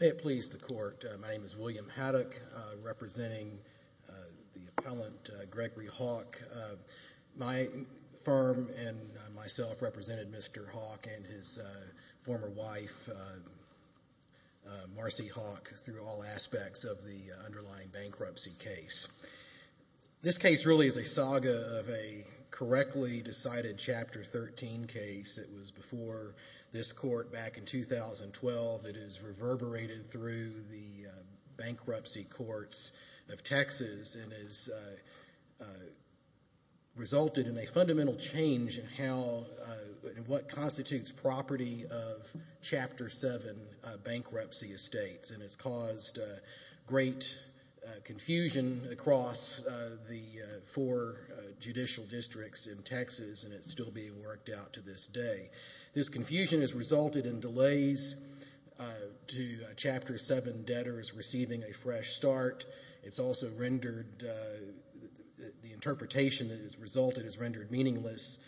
May it please the Court, my name is William Haddock, representing the appellant Gregory Hawk. My firm and myself represented Mr. Hawk and his former wife, Marcy Hawk, through all aspects of the underlying bankruptcy case. This case really is a saga of a correctly decided Chapter 13 case. It was before this court back in 2012. It has reverberated through the bankruptcy courts of Texas and has resulted in a fundamental change in what constitutes property of Chapter 7 bankruptcy estates. It has caused great confusion across the four judicial districts in Texas and it is still being worked out to this day. This confusion has resulted in delays to Chapter 7 debtors receiving a fresh start. It has also rendered the interpretation that has resulted as rendered meaningless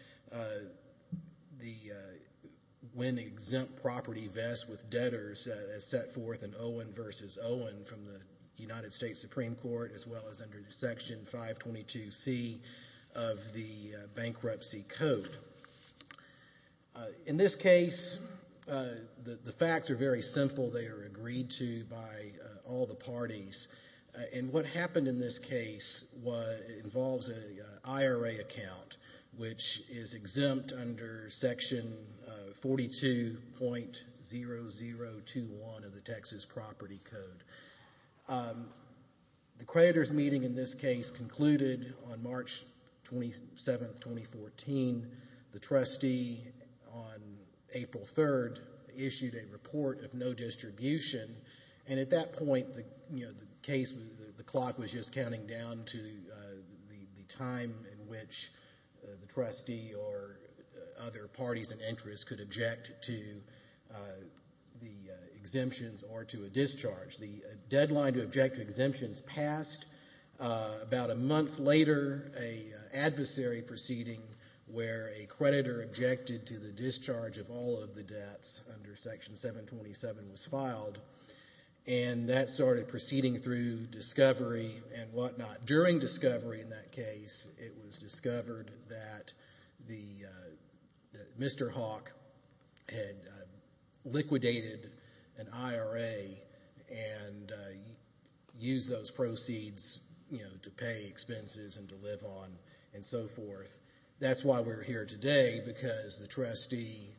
when exempt property vests with debtors as set forth in Owen v. Owen from the United States Supreme Court as well as under Section 522C of the Bankruptcy Code. In this case, the facts are very simple. They are agreed to by all the parties and what happened in this case involves an IRA account which is exempt under Section 42.0021 of the Texas Property Code. The creditors meeting in this case concluded on March 27, 2014. The trustee on April 3 issued a report of no distribution and at that point the clock was just counting down to the time in which the trustee or other parties and interests could object to the exemptions or to a discharge. The deadline to object to exemptions passed. About a month later, an adversary proceeding where a creditor objected to the discharge of all of the debts under Section 727 was filed and that started proceeding through discovery and whatnot. During discovery in that case, it was discovered that Mr. Hawk had liquidated an IRA and used those proceeds to pay expenses and to live on and so forth. That's why we're here today because the trustee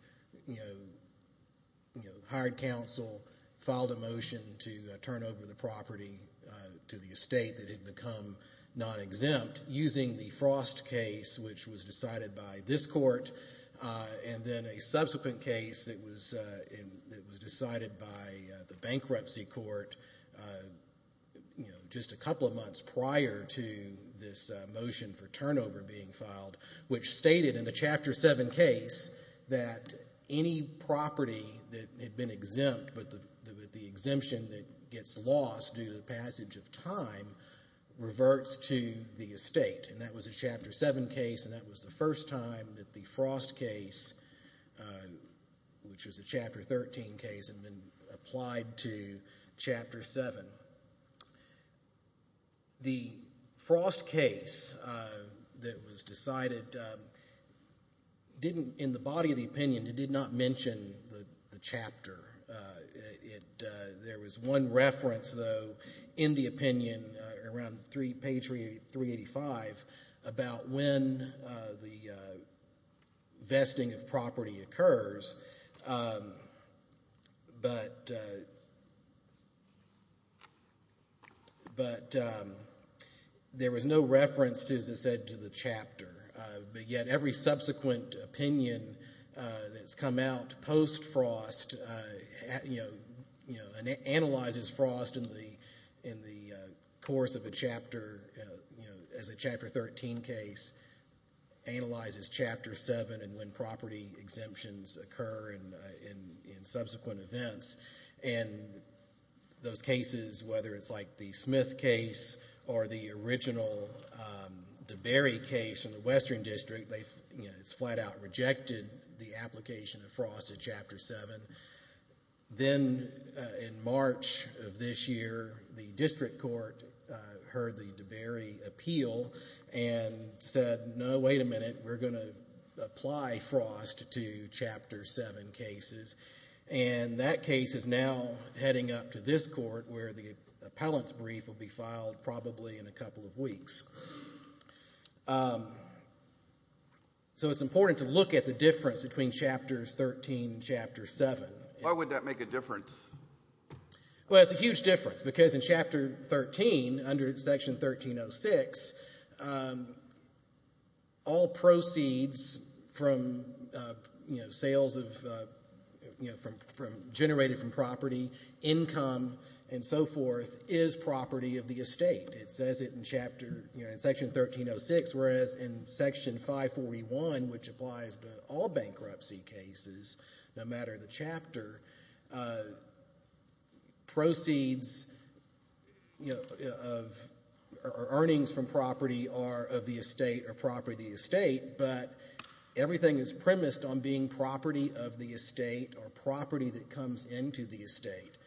hired counsel, filed a motion to turn over the property to the estate that had become non-exempt using the Frost case which was decided by this court and then a subsequent case that was decided by the bankruptcy court just a couple of months prior to this motion for turnover being filed. Which stated in a Chapter 7 case that any property that had been exempt but the exemption that gets lost due to the passage of time reverts to the estate. That was a Chapter 7 case and that was the first time that the Frost case, which was a Chapter 13 case, had been applied to Chapter 7. The Frost case that was decided didn't, in the body of the opinion, it did not mention the chapter. There was one reference, though, in the opinion around page 385 about when the vesting of property occurs, but there was no reference to the chapter. But yet every subsequent opinion that's come out post-Frost analyzes Frost in the course of a Chapter, as a Chapter 13 case, analyzes Chapter 7 and when property exemptions occur in subsequent events. And those cases, whether it's like the Smith case or the original DeBerry case in the Western District, it's flat out rejected the application of Frost in Chapter 7. Then in March of this year, the District Court heard the DeBerry appeal and said, no, wait a minute, we're going to apply Frost to Chapter 7 cases. And that case is now heading up to this court where the appellant's brief will be filed probably in a couple of weeks. So it's important to look at the difference between Chapters 13 and Chapter 7. Why would that make a difference? Well, it's a huge difference because in Chapter 13, under Section 1306, all proceeds from sales generated from property, income, and so forth, is property of the estate. It says it in Section 1306, whereas in Section 541, which applies to all bankruptcy cases, no matter the chapter, proceeds or earnings from property are of the estate or property of the estate. But everything is premised on being property of the estate or property that comes into the estate.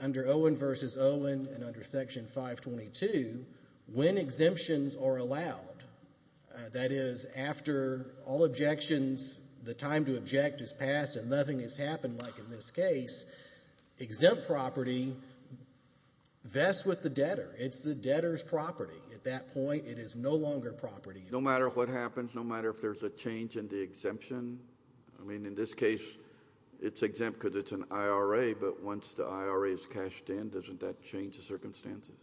Under Owen v. Owen and under Section 522, when exemptions are allowed, that is, after all objections, the time to object is passed and nothing has happened, like in this case, exempt property vests with the debtor. It's the debtor's property. At that point, it is no longer property. No matter what happens, no matter if there's a change in the exemption. I mean, in this case, it's exempt because it's an IRA, but once the IRA is cashed in, doesn't that change the circumstances?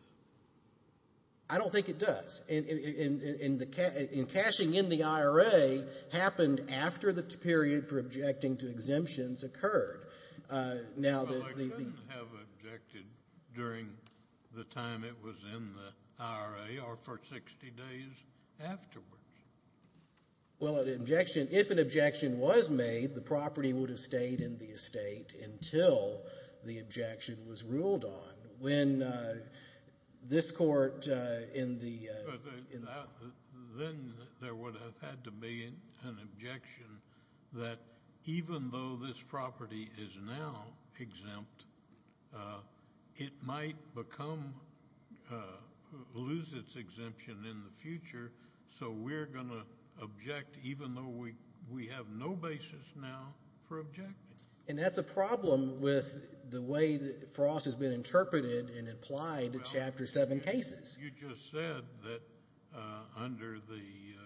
I don't think it does. And cashing in the IRA happened after the period for objecting to exemptions occurred. Well, I couldn't have objected during the time it was in the IRA or for 60 days afterwards. Well, an objection, if an objection was made, the property would have stayed in the estate until the objection was ruled on. But then there would have had to be an objection that even though this property is now exempt, it might lose its exemption in the future, so we're going to object even though we have no basis now for objecting. And that's a problem with the way that Frost has been interpreted and applied in Chapter 7 cases. You just said that under the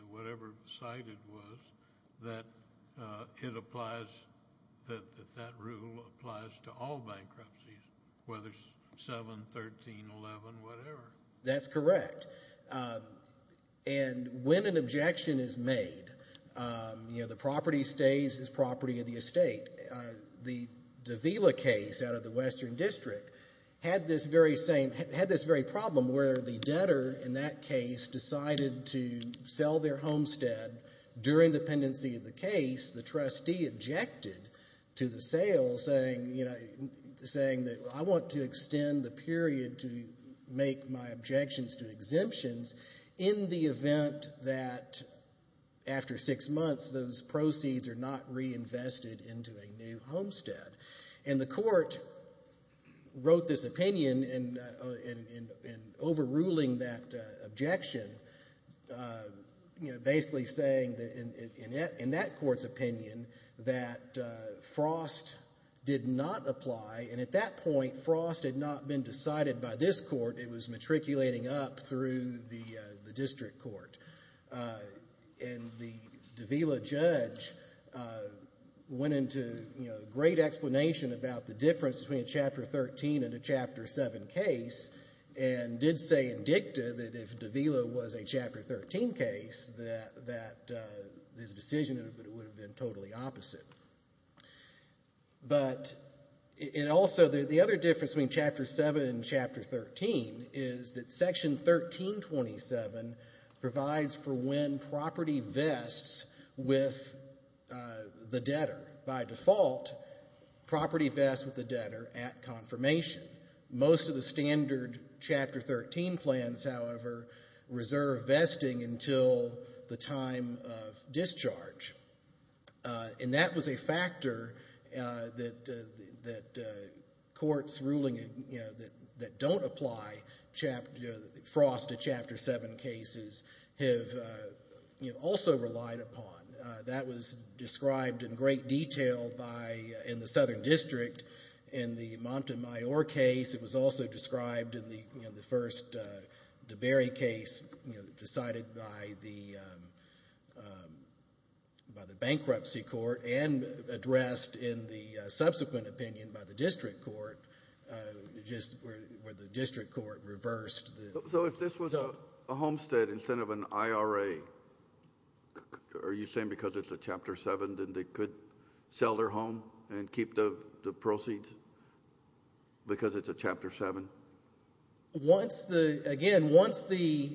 whatever cited was, that it applies, that that rule applies to all bankruptcies, whether it's 7, 13, 11, whatever. That's correct. And when an objection is made, you know, the property stays as property of the estate. The Davila case out of the Western District had this very same, had this very problem where the debtor in that case decided to sell their homestead. And during the pendency of the case, the trustee objected to the sale saying, you know, saying that I want to extend the period to make my objections to exemptions in the event that after six months, those proceeds are not reinvested into a new homestead. And the court wrote this opinion in overruling that objection, you know, basically saying in that court's opinion that Frost did not apply. And at that point, Frost had not been decided by this court. It was matriculating up through the district court. And the Davila judge went into, you know, great explanation about the difference between a Chapter 13 and a Chapter 7 case and did say in dicta that if Davila was a Chapter 13 case, that this decision would have been totally opposite. But it also, the other difference between Chapter 7 and Chapter 13 is that Section 1327 provides for when property vests with the debtor. By default, property vests with the debtor at confirmation. Most of the standard Chapter 13 plans, however, reserve vesting until the time of discharge. And that was a factor that courts ruling that don't apply Frost to Chapter 7 cases have also relied upon. That was described in great detail in the Southern District in the Montemayor case. It was also described in the first DeBerry case decided by the bankruptcy court and addressed in the subsequent opinion by the district court where the district court reversed. So if this was a homestead instead of an IRA, are you saying because it's a Chapter 7, then they could sell their home and keep the proceeds because it's a Chapter 7? Once the, again, once the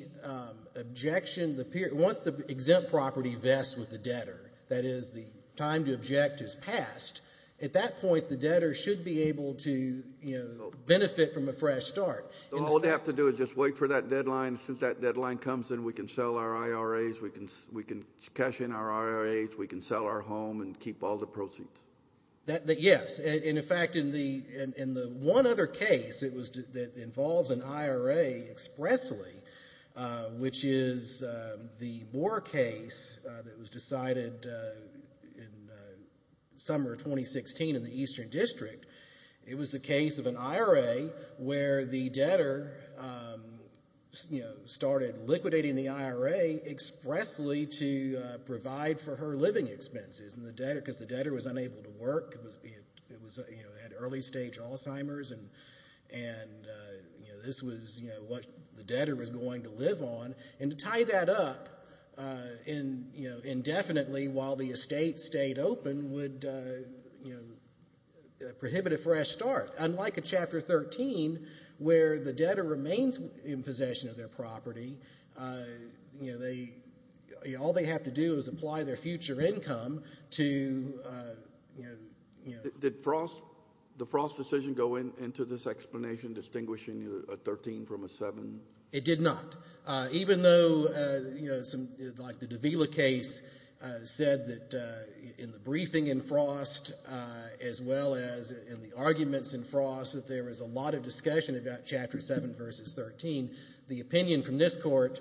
objection, once the exempt property vests with the debtor, that is the time to object is passed, at that point the debtor should be able to benefit from a fresh start. All they have to do is just wait for that deadline. Since that deadline comes, then we can sell our IRAs. We can cash in our IRAs. We can sell our home and keep all the proceeds. Yes. In fact, in the one other case that involves an IRA expressly, which is the Moore case that was decided in the summer of 2016 in the Eastern District, it was the case of an IRA where the debtor started liquidating the IRA expressly to provide for her living expenses because the debtor was unable to work. It was, you know, had early stage Alzheimer's and, you know, this was, you know, what the debtor was going to live on. And to tie that up, you know, indefinitely while the estate stayed open would, you know, prohibit a fresh start. Unlike a Chapter 13 where the debtor remains in possession of their property, you know, all they have to do is apply their future income to, you know. Did the Frost decision go into this explanation distinguishing a 13 from a 7? It did not. Even though, you know, like the Davila case said that in the briefing in Frost as well as in the arguments in Frost that there was a lot of discussion about Chapter 7 versus 13, the opinion from this court,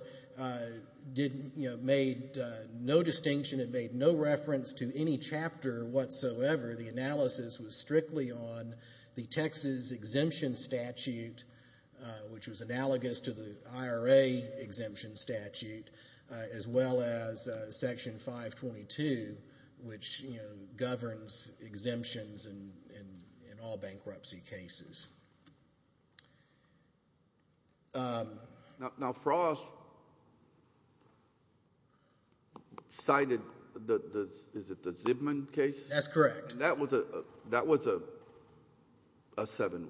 you know, made no distinction. It made no reference to any chapter whatsoever. The analysis was strictly on the Texas exemption statute, which was analogous to the IRA exemption statute, as well as Section 522, which, you know, governs exemptions in all bankruptcy cases. Now Frost cited the, is it the Zibman case? That's correct. That was a 7,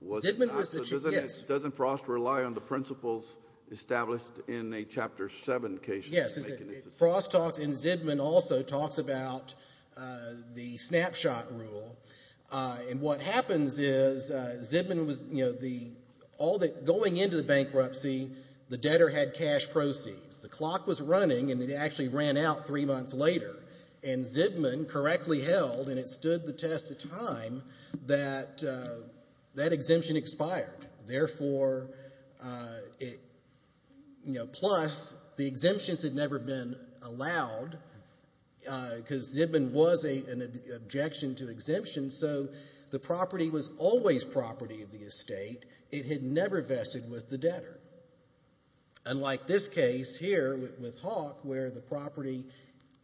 was it not? Zibman was the, yes. So doesn't Frost rely on the principles established in a Chapter 7 case? Yes. Frost talks, and Zibman also talks about the snapshot rule. And what happens is Zibman was, you know, the, going into the bankruptcy, the debtor had cash proceeds. The clock was running, and it actually ran out three months later. And Zibman correctly held, and it stood the test of time, that that exemption expired. Therefore, you know, plus the exemptions had never been allowed because Zibman was an objection to exemption. So the property was always property of the estate. It had never vested with the debtor. Unlike this case here with Hawk, where the property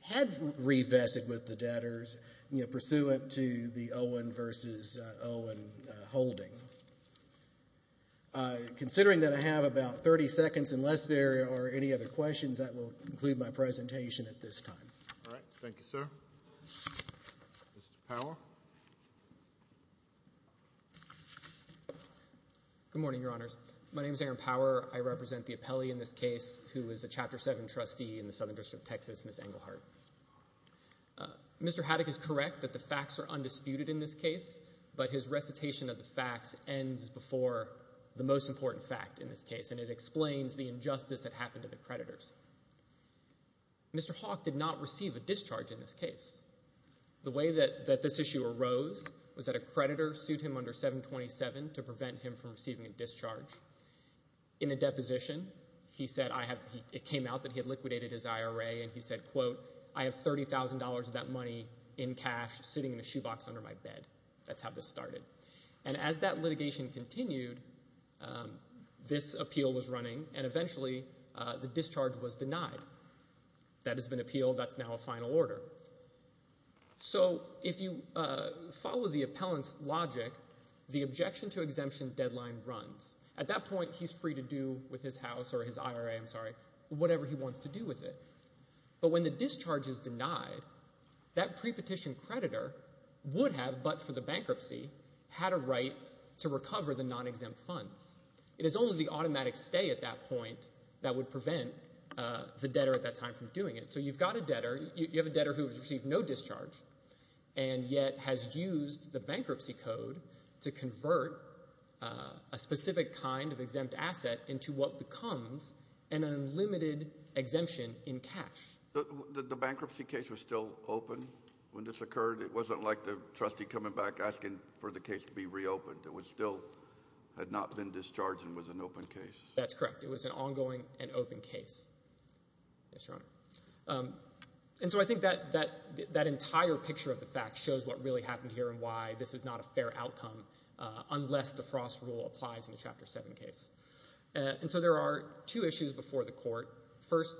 had revested with the debtors, you know, pursuant to the Owen versus Owen holding. Considering that I have about 30 seconds, unless there are any other questions, that will conclude my presentation at this time. All right. Thank you, sir. Mr. Power. Good morning, Your Honors. My name is Aaron Power. I represent the appellee in this case who is a Chapter 7 trustee in the Southern District of Texas, Ms. Engelhardt. Mr. Haddock is correct that the facts are undisputed in this case, but his recitation of the facts ends before the most important fact in this case, and it explains the injustice that happened to the creditors. Mr. Hawk did not receive a discharge in this case. The way that this issue arose was that a creditor sued him under 727 to prevent him from receiving a discharge. In a deposition, he said it came out that he had liquidated his IRA, and he said, quote, I have $30,000 of that money in cash sitting in a shoebox under my bed. That's how this started. And as that litigation continued, this appeal was running, and eventually the discharge was denied. That has been appealed. That's now a final order. So if you follow the appellant's logic, the objection to exemption deadline runs. At that point, he's free to do with his house or his IRA, I'm sorry, whatever he wants to do with it. But when the discharge is denied, that prepetition creditor would have, but for the bankruptcy, had a right to recover the non-exempt funds. It is only the automatic stay at that point that would prevent the debtor at that time from doing it. So you've got a debtor. You have a debtor who has received no discharge and yet has used the bankruptcy code to convert a specific kind of exempt asset into what becomes an unlimited exemption in cash. The bankruptcy case was still open when this occurred. It wasn't like the trustee coming back asking for the case to be reopened. It still had not been discharged and was an open case. That's correct. It was an ongoing and open case. Yes, Your Honor. And so I think that entire picture of the fact shows what really happened here and why this is not a fair outcome unless the Frost rule applies in a Chapter 7 case. And so there are two issues before the court. First,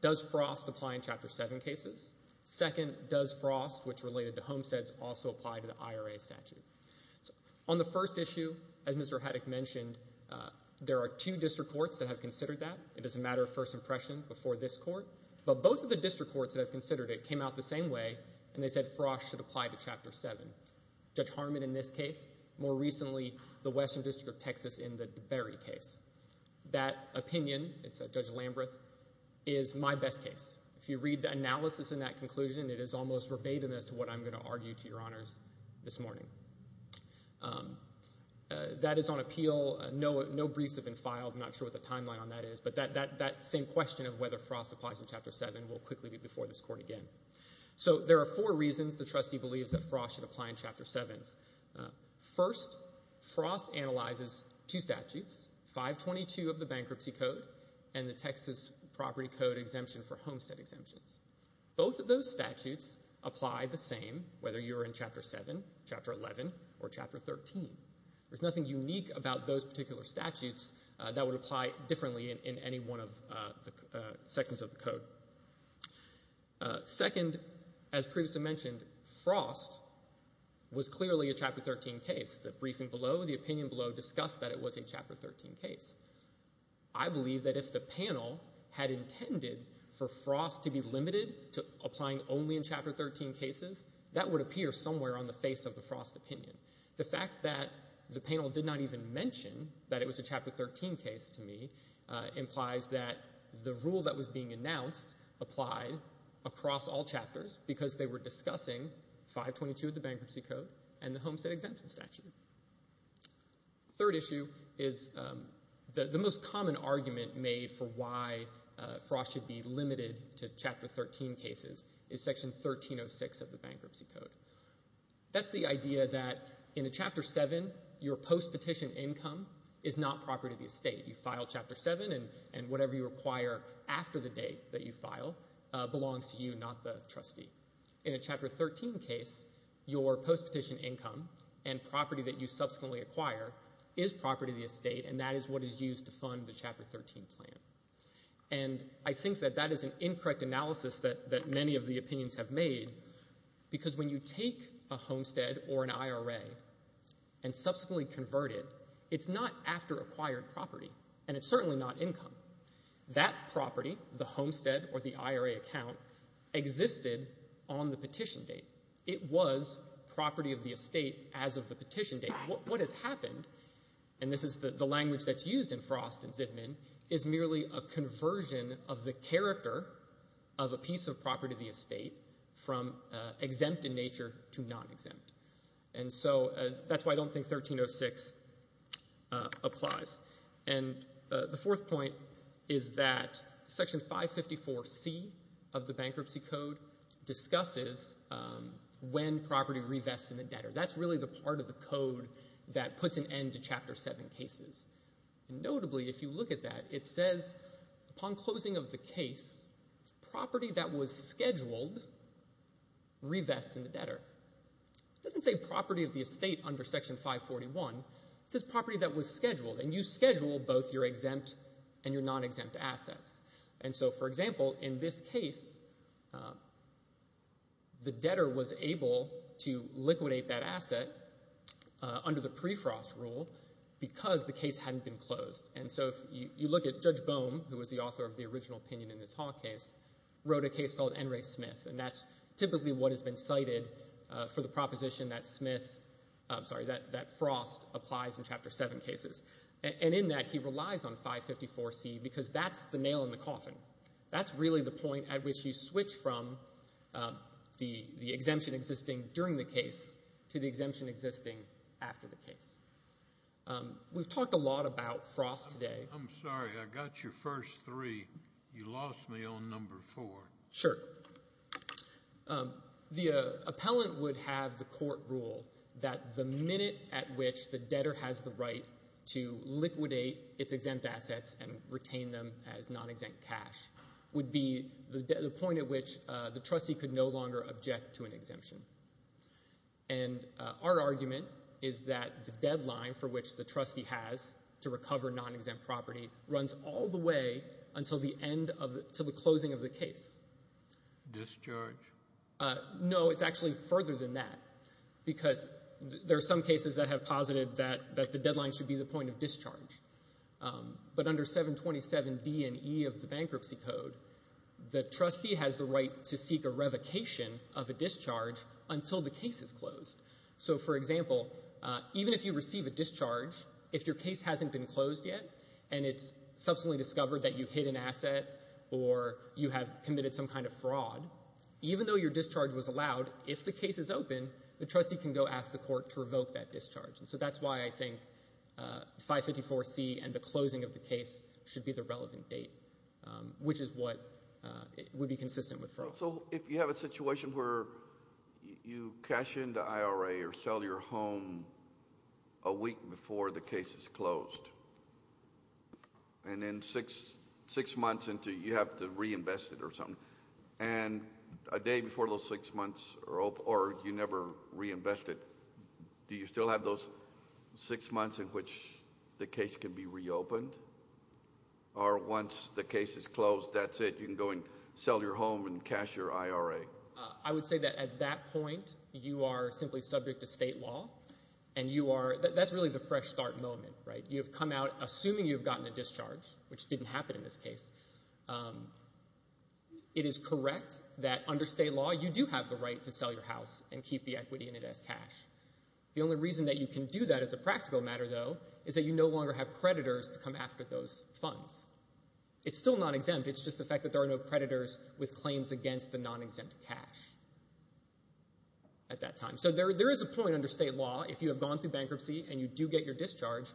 does Frost apply in Chapter 7 cases? Second, does Frost, which related to homesteads, also apply to the IRA statute? On the first issue, as Mr. Haddock mentioned, there are two district courts that have considered that. It is a matter of first impression before this court. But both of the district courts that have considered it came out the same way, and they said Frost should apply to Chapter 7. Judge Harmon in this case, more recently the Western District of Texas in the DeBerry case. That opinion, Judge Lambreth, is my best case. If you read the analysis in that conclusion, it is almost verbatim as to what I'm going to argue to Your Honors this morning. That is on appeal. No briefs have been filed. I'm not sure what the timeline on that is. But that same question of whether Frost applies in Chapter 7 will quickly be before this court again. So there are four reasons the trustee believes that Frost should apply in Chapter 7. First, Frost analyzes two statutes, 522 of the Bankruptcy Code and the Texas Property Code Exemption for Homestead Exemptions. Both of those statutes apply the same whether you're in Chapter 7, Chapter 11, or Chapter 13. There's nothing unique about those particular statutes that would apply differently in any one of the sections of the code. Second, as previously mentioned, Frost was clearly a Chapter 13 case. The briefing below, the opinion below discussed that it was a Chapter 13 case. I believe that if the panel had intended for Frost to be limited to applying only in Chapter 13 cases, that would appear somewhere on the face of the Frost opinion. The fact that the panel did not even mention that it was a Chapter 13 case to me implies that the rule that was being announced applied across all chapters because they were discussing 522 of the Bankruptcy Code and the Homestead Exemption statute. Third issue is the most common argument made for why Frost should be limited to Chapter 13 cases is Section 1306 of the Bankruptcy Code. That's the idea that in a Chapter 7, your post-petition income is not property of the estate. You file Chapter 7, and whatever you require after the date that you file belongs to you, not the trustee. In a Chapter 13 case, your post-petition income and property that you subsequently acquire is property of the estate, and that is what is used to fund the Chapter 13 plan. I think that that is an incorrect analysis that many of the opinions have made because when you take a homestead or an IRA and subsequently convert it, it's not after acquired property, and it's certainly not income. That property, the homestead or the IRA account, existed on the petition date. It was property of the estate as of the petition date. What has happened, and this is the language that's used in Frost and Zidman, is merely a conversion of the character of a piece of property of the estate from exempt in nature to non-exempt. And so that's why I don't think 1306 applies. And the fourth point is that Section 554C of the Bankruptcy Code discusses when property revests in the debtor. That's really the part of the code that puts an end to Chapter 7 cases. Notably, if you look at that, it says upon closing of the case, property that was scheduled revests in the debtor. It doesn't say property of the estate under Section 541. It says property that was scheduled. And you schedule both your exempt and your non-exempt assets. And so, for example, in this case, the debtor was able to liquidate that asset under the pre-Frost rule because the case hadn't been closed. And so if you look at Judge Bohm, who was the author of the original opinion in this Hall case, wrote a case called N. Ray Smith, and that's typically what has been cited for the proposition that Frost applies in Chapter 7 cases. And in that, he relies on 554C because that's the nail in the coffin. That's really the point at which you switch from the exemption existing during the case to the exemption existing after the case. We've talked a lot about Frost today. I'm sorry, I got your first three. You lost me on number four. Sure. The appellant would have the court rule that the minute at which the debtor has the right to liquidate its exempt assets and retain them as non-exempt cash would be the point at which the trustee could no longer object to an exemption. And our argument is that the deadline for which the trustee has to recover non-exempt property runs all the way until the closing of the case. Discharge? No, it's actually further than that, because there are some cases that have posited that the deadline should be the point of discharge. But under 727D and E of the Bankruptcy Code, the trustee has the right to seek a revocation of a discharge until the case is closed. So, for example, even if you receive a discharge, if your case hasn't been closed yet and it's subsequently discovered that you hid an asset or you have committed some kind of fraud, even though your discharge was allowed, if the case is open, the trustee can go ask the court to revoke that discharge. And so that's why I think 554C and the closing of the case should be the relevant date, which is what would be consistent with Frost. So if you have a situation where you cash in the IRA or sell your home a week before the case is closed, and then six months into it, you have to reinvest it or something, and a day before those six months, or you never reinvest it, do you still have those six months in which the case can be reopened? Or once the case is closed, that's it? You can go and sell your home and cash your IRA? I would say that at that point, you are simply subject to state law, and that's really the fresh start moment. You've come out assuming you've gotten a discharge, which didn't happen in this case. It is correct that under state law, you do have the right to sell your house and keep the equity in it as cash. The only reason that you can do that as a practical matter, though, is that you no longer have creditors to come after those funds. It's still non-exempt. It's just the fact that there are no creditors with claims against the non-exempt cash at that time. So there is a point under state law, if you have gone through bankruptcy and you do get your discharge,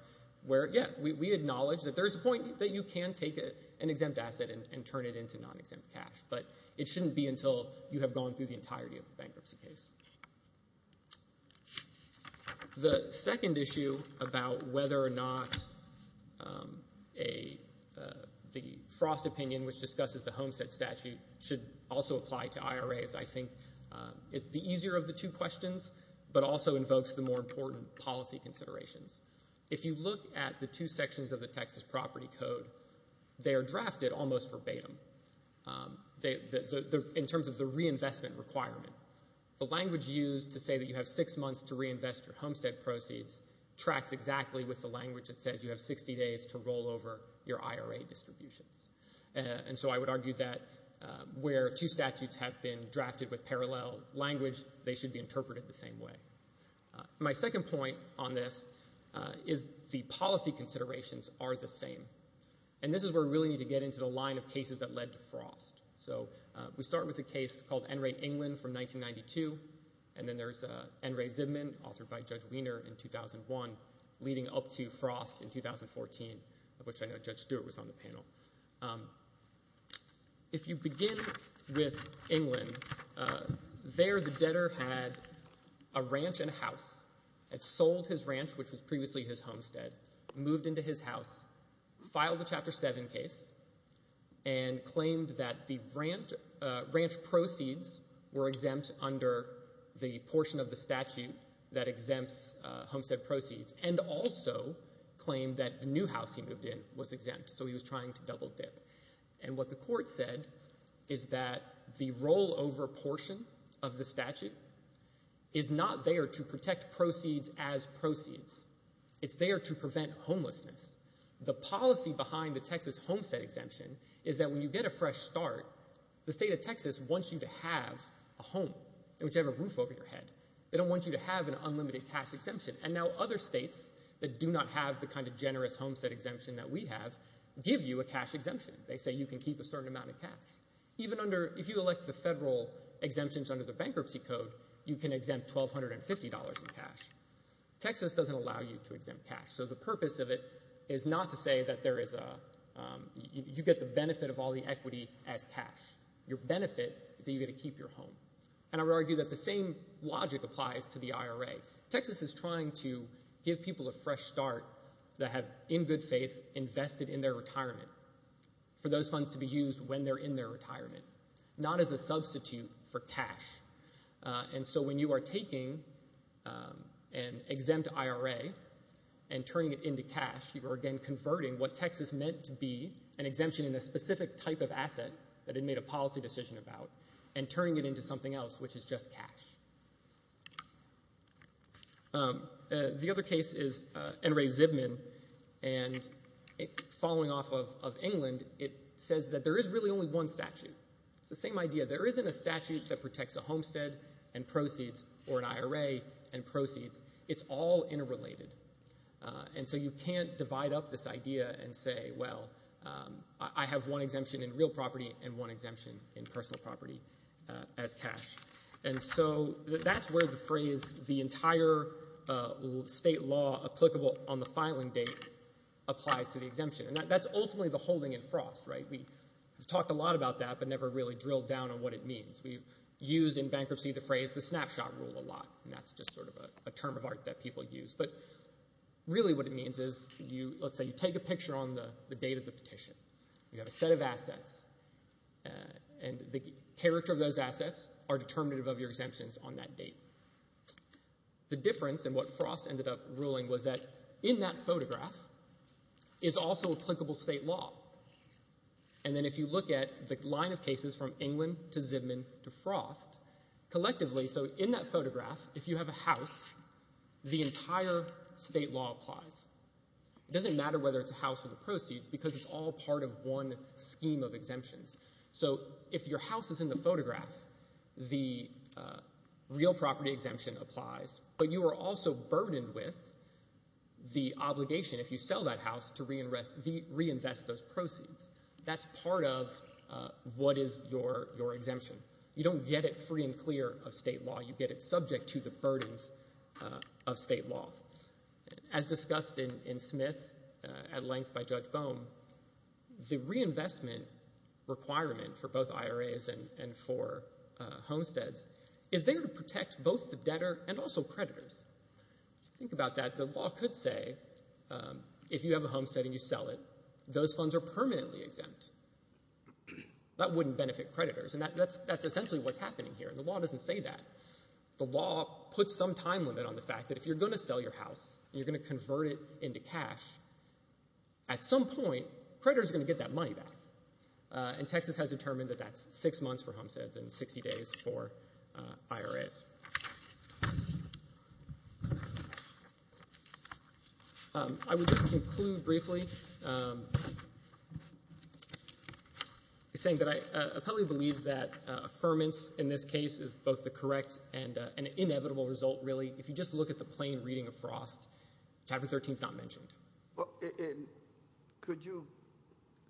where, yeah, we acknowledge that there is a point that you can take an exempt asset and turn it into non-exempt cash, but it shouldn't be until you have gone through the entirety of the bankruptcy case. The second issue about whether or not the Frost opinion, which discusses the Homestead statute, should also apply to IRAs, I think, is the easier of the two questions but also invokes the more important policy considerations. If you look at the two sections of the Texas Property Code, they are drafted almost verbatim, in terms of the reinvestment requirement. The language used to say that you have six months to reinvest your Homestead proceeds tracks exactly with the language that says you have 60 days to roll over your IRA distributions. And so I would argue that where two statutes have been drafted with parallel language, they should be interpreted the same way. My second point on this is the policy considerations are the same. And this is where we really need to get into the line of cases that led to Frost. So we start with a case called N. Ray England from 1992, and then there's N. Ray Zibman, authored by Judge Wiener in 2001, leading up to Frost in 2014, of which I know Judge Stewart was on the panel. If you begin with England, there the debtor had a ranch and a house, had sold his ranch, which was previously his homestead, moved into his house, filed a Chapter 7 case, and claimed that the ranch proceeds were exempt under the portion of the statute that exempts homestead proceeds, and also claimed that the new house he moved in was exempt. So he was trying to double dip. And what the court said is that the rollover portion of the statute is not there to protect proceeds as proceeds. It's there to prevent homelessness. The policy behind the Texas homestead exemption is that when you get a fresh start, the state of Texas wants you to have a home, whichever roof over your head. They don't want you to have an unlimited cash exemption. And now other states that do not have the kind of generous homestead exemption that we have give you a cash exemption. They say you can keep a certain amount of cash. Even if you elect the federal exemptions under the bankruptcy code, you can exempt $1,250 in cash. Texas doesn't allow you to exempt cash. So the purpose of it is not to say that you get the benefit of all the equity as cash. Your benefit is that you get to keep your home. And I would argue that the same logic applies to the IRA. Texas is trying to give people a fresh start that have, in good faith, invested in their retirement for those funds to be used when they're in their retirement, not as a substitute for cash. And so when you are taking an exempt IRA and turning it into cash, you are again converting what Texas meant to be an exemption in a specific type of asset that it made a policy decision about and turning it into something else, which is just cash. The other case is N. Ray Zibman. And following off of England, it says that there is really only one statute. It's the same idea. There isn't a statute that protects a homestead and proceeds or an IRA and proceeds. It's all interrelated. And so you can't divide up this idea and say, well, I have one exemption in real property and one exemption in personal property as cash. And so that's where the phrase the entire state law applicable on the filing date applies to the exemption. And that's ultimately the holding in frost. We've talked a lot about that but never really drilled down on what it means. We use in bankruptcy the phrase the snapshot rule a lot, and that's just sort of a term of art that people use. But really what it means is, let's say you take a picture on the date of the petition. You have a set of assets, and the character of those assets are determinative of your exemptions on that date. The difference in what frost ended up ruling was that in that photograph is also applicable state law. And then if you look at the line of cases from England to Zipman to frost, collectively, so in that photograph, if you have a house, the entire state law applies. It doesn't matter whether it's a house or the proceeds because it's all part of one scheme of exemptions. So if your house is in the photograph, the real property exemption applies, but you are also burdened with the obligation, if you sell that house, to reinvest those proceeds. That's part of what is your exemption. You don't get it free and clear of state law. You get it subject to the burdens of state law. As discussed in Smith at length by Judge Bohm, the reinvestment requirement for both IRAs and for homesteads is there to protect both the debtor and also creditors. Think about that. The law could say if you have a homestead and you sell it, those funds are permanently exempt. That wouldn't benefit creditors, and that's essentially what's happening here. The law doesn't say that. The law puts some time limit on the fact that if you're going to sell your house and you're going to convert it into cash, at some point creditors are going to get that money back. And Texas has determined that that's six months for homesteads and 60 days for IRAs. I would just conclude briefly saying that I probably believe that affirmance in this case is both the correct and an inevitable result, really. If you just look at the plain reading of Frost, Chapter 13 is not mentioned. Could you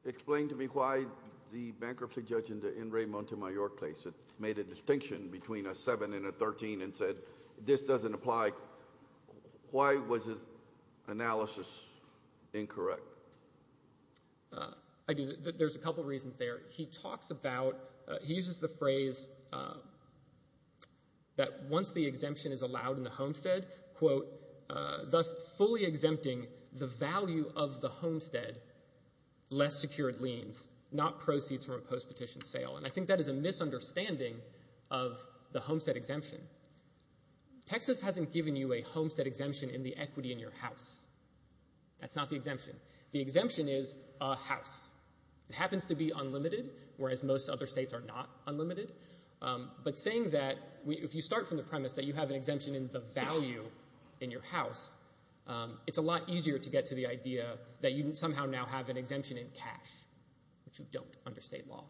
explain to me why the bankruptcy judge in the Enrique Montemayor case made a distinction between a 7 and a 13 and said this doesn't apply? Why was his analysis incorrect? There's a couple reasons there. He talks about he uses the phrase that once the exemption is allowed in the homestead, thus fully exempting the value of the homestead, less secured liens, not proceeds from a post-petition sale. And I think that is a misunderstanding of the homestead exemption. Texas hasn't given you a homestead exemption in the equity in your house. That's not the exemption. The exemption is a house. It happens to be unlimited, whereas most other states are not unlimited. But saying that if you start from the premise that you have an exemption in the value in your house, it's a lot easier to get to the idea that you somehow now have an exemption in cash, which you don't under state law.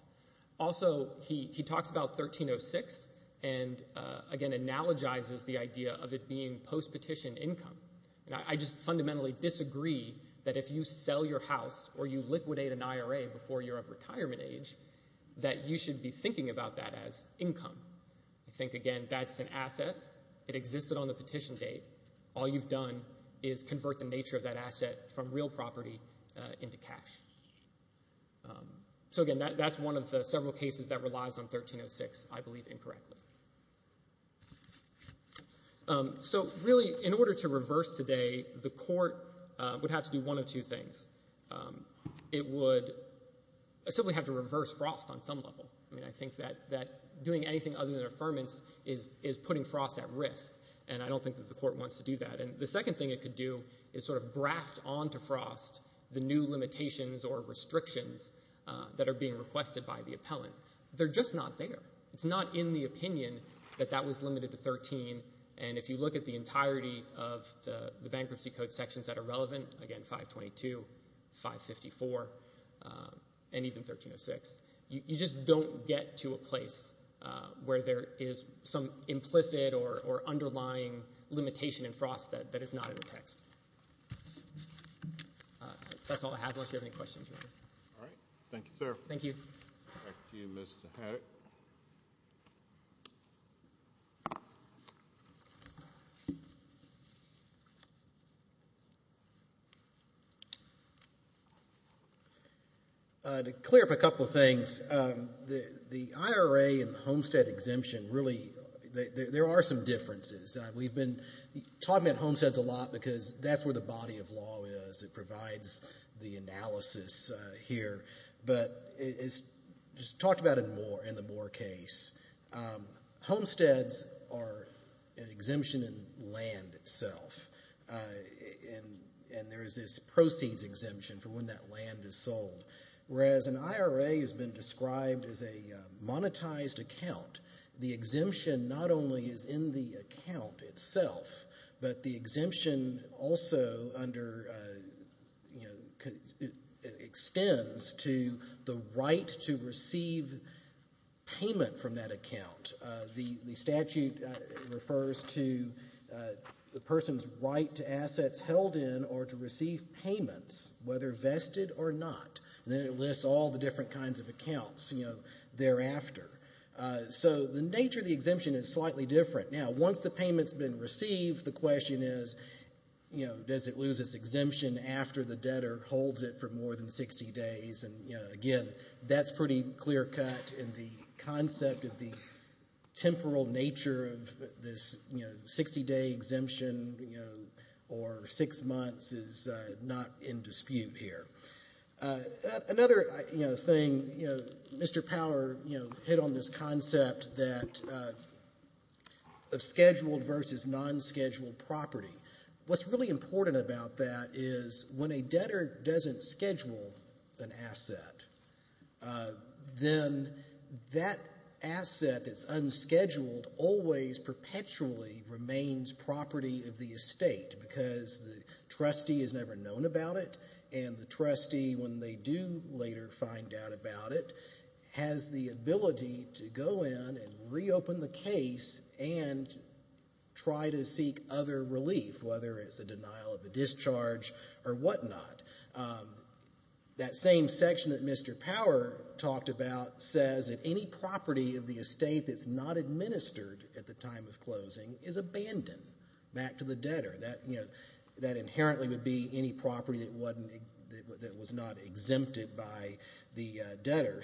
Also, he talks about 1306 and, again, analogizes the idea of it being post-petition income. I just fundamentally disagree that if you sell your house or you liquidate an IRA before you're of retirement age, that you should be thinking about that as income. I think, again, that's an asset. It existed on the petition date. All you've done is convert the nature of that asset from real property into cash. So, again, that's one of the several cases that relies on 1306, I believe, incorrectly. So, really, in order to reverse today, the court would have to do one of two things. It would simply have to reverse Frost on some level. I mean, I think that doing anything other than affirmance is putting Frost at risk, and I don't think that the court wants to do that. And the second thing it could do is sort of graft onto Frost the new limitations or restrictions that are being requested by the appellant. They're just not there. It's not in the opinion that that was limited to 13, and if you look at the entirety of the bankruptcy code sections that are relevant, again, 522, 554, and even 1306, you just don't get to a place where there is some implicit or underlying limitation in Frost that is not in the text. That's all I have unless you have any questions. All right. Thank you, sir. Thank you. Back to you, Mr. Herrick. To clear up a couple of things, the IRA and the homestead exemption, really, there are some differences. We've been talking about homesteads a lot because that's where the body of law is. It provides the analysis here. But it's talked about in the Moore case. Homesteads are an exemption in land itself, and there is this proceeds exemption for when that land is sold, whereas an IRA has been described as a monetized account. The exemption not only is in the account itself, but the exemption also extends to the right to receive payment from that account. The statute refers to the person's right to assets held in or to receive payments, whether vested or not. Then it lists all the different kinds of accounts thereafter. So the nature of the exemption is slightly different. Now, once the payment has been received, the question is, does it lose its exemption after the debtor holds it for more than 60 days? Again, that's pretty clear-cut, and the concept of the temporal nature of this 60-day exemption or six months is not in dispute here. Another thing, Mr. Power hit on this concept of scheduled versus non-scheduled property. What's really important about that is when a debtor doesn't schedule an asset, then that asset that's unscheduled always perpetually remains property of the estate because the trustee has never known about it, and the trustee, when they do later find out about it, has the ability to go in and reopen the case and try to seek other relief, whether it's a denial of a discharge or whatnot. That same section that Mr. Power talked about says that any property of the estate that's not administered at the time of closing is abandoned back to the debtor. That inherently would be any property that was not exempted by the debtor.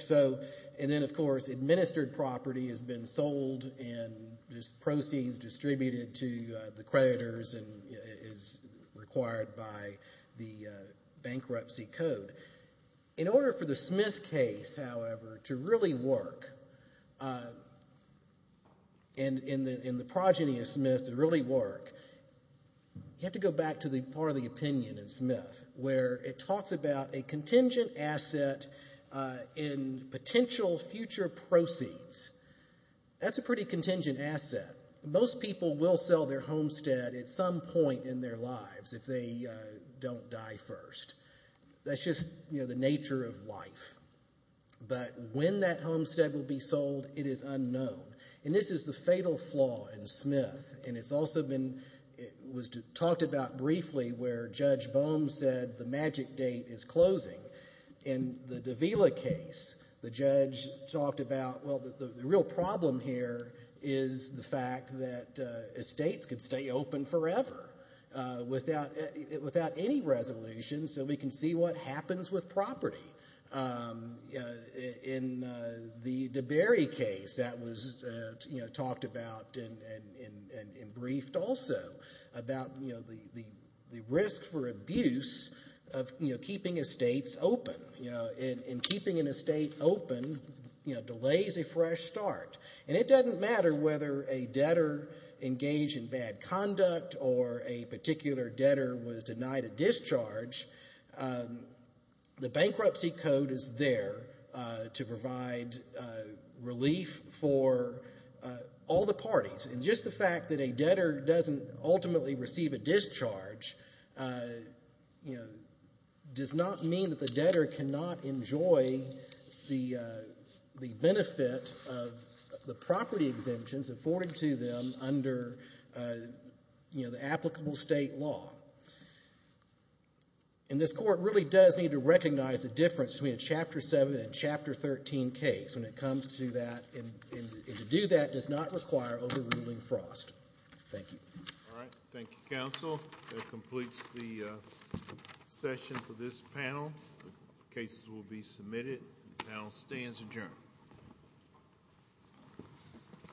And then, of course, administered property has been sold and just proceeds distributed to the creditors and is required by the bankruptcy code. In order for the Smith case, however, to really work and the progeny of Smith to really work, you have to go back to the part of the opinion in Smith where it talks about a contingent asset in potential future proceeds. That's a pretty contingent asset. Most people will sell their homestead at some point in their lives if they don't die first. That's just the nature of life. But when that homestead will be sold, it is unknown. And this is the fatal flaw in Smith, and it's also been talked about briefly where Judge Bohm said the magic date is closing. In the Davila case, the judge talked about, well, the real problem here is the fact that estates could stay open forever without any resolution so we can see what happens with property. In the DeBerry case, that was talked about and briefed also about the risk for abuse of keeping estates open. And keeping an estate open delays a fresh start. And it doesn't matter whether a debtor engaged in bad conduct or a particular debtor was denied a discharge. The bankruptcy code is there to provide relief for all the parties. And just the fact that a debtor doesn't ultimately receive a discharge does not mean that the debtor cannot enjoy the benefit of the property exemptions afforded to them under the applicable state law. And this Court really does need to recognize the difference between a Chapter 7 and a Chapter 13 case when it comes to that, and to do that does not require overruling Frost. Thank you. All right. Thank you, counsel. That completes the session for this panel. The cases will be submitted. The panel stands adjourned.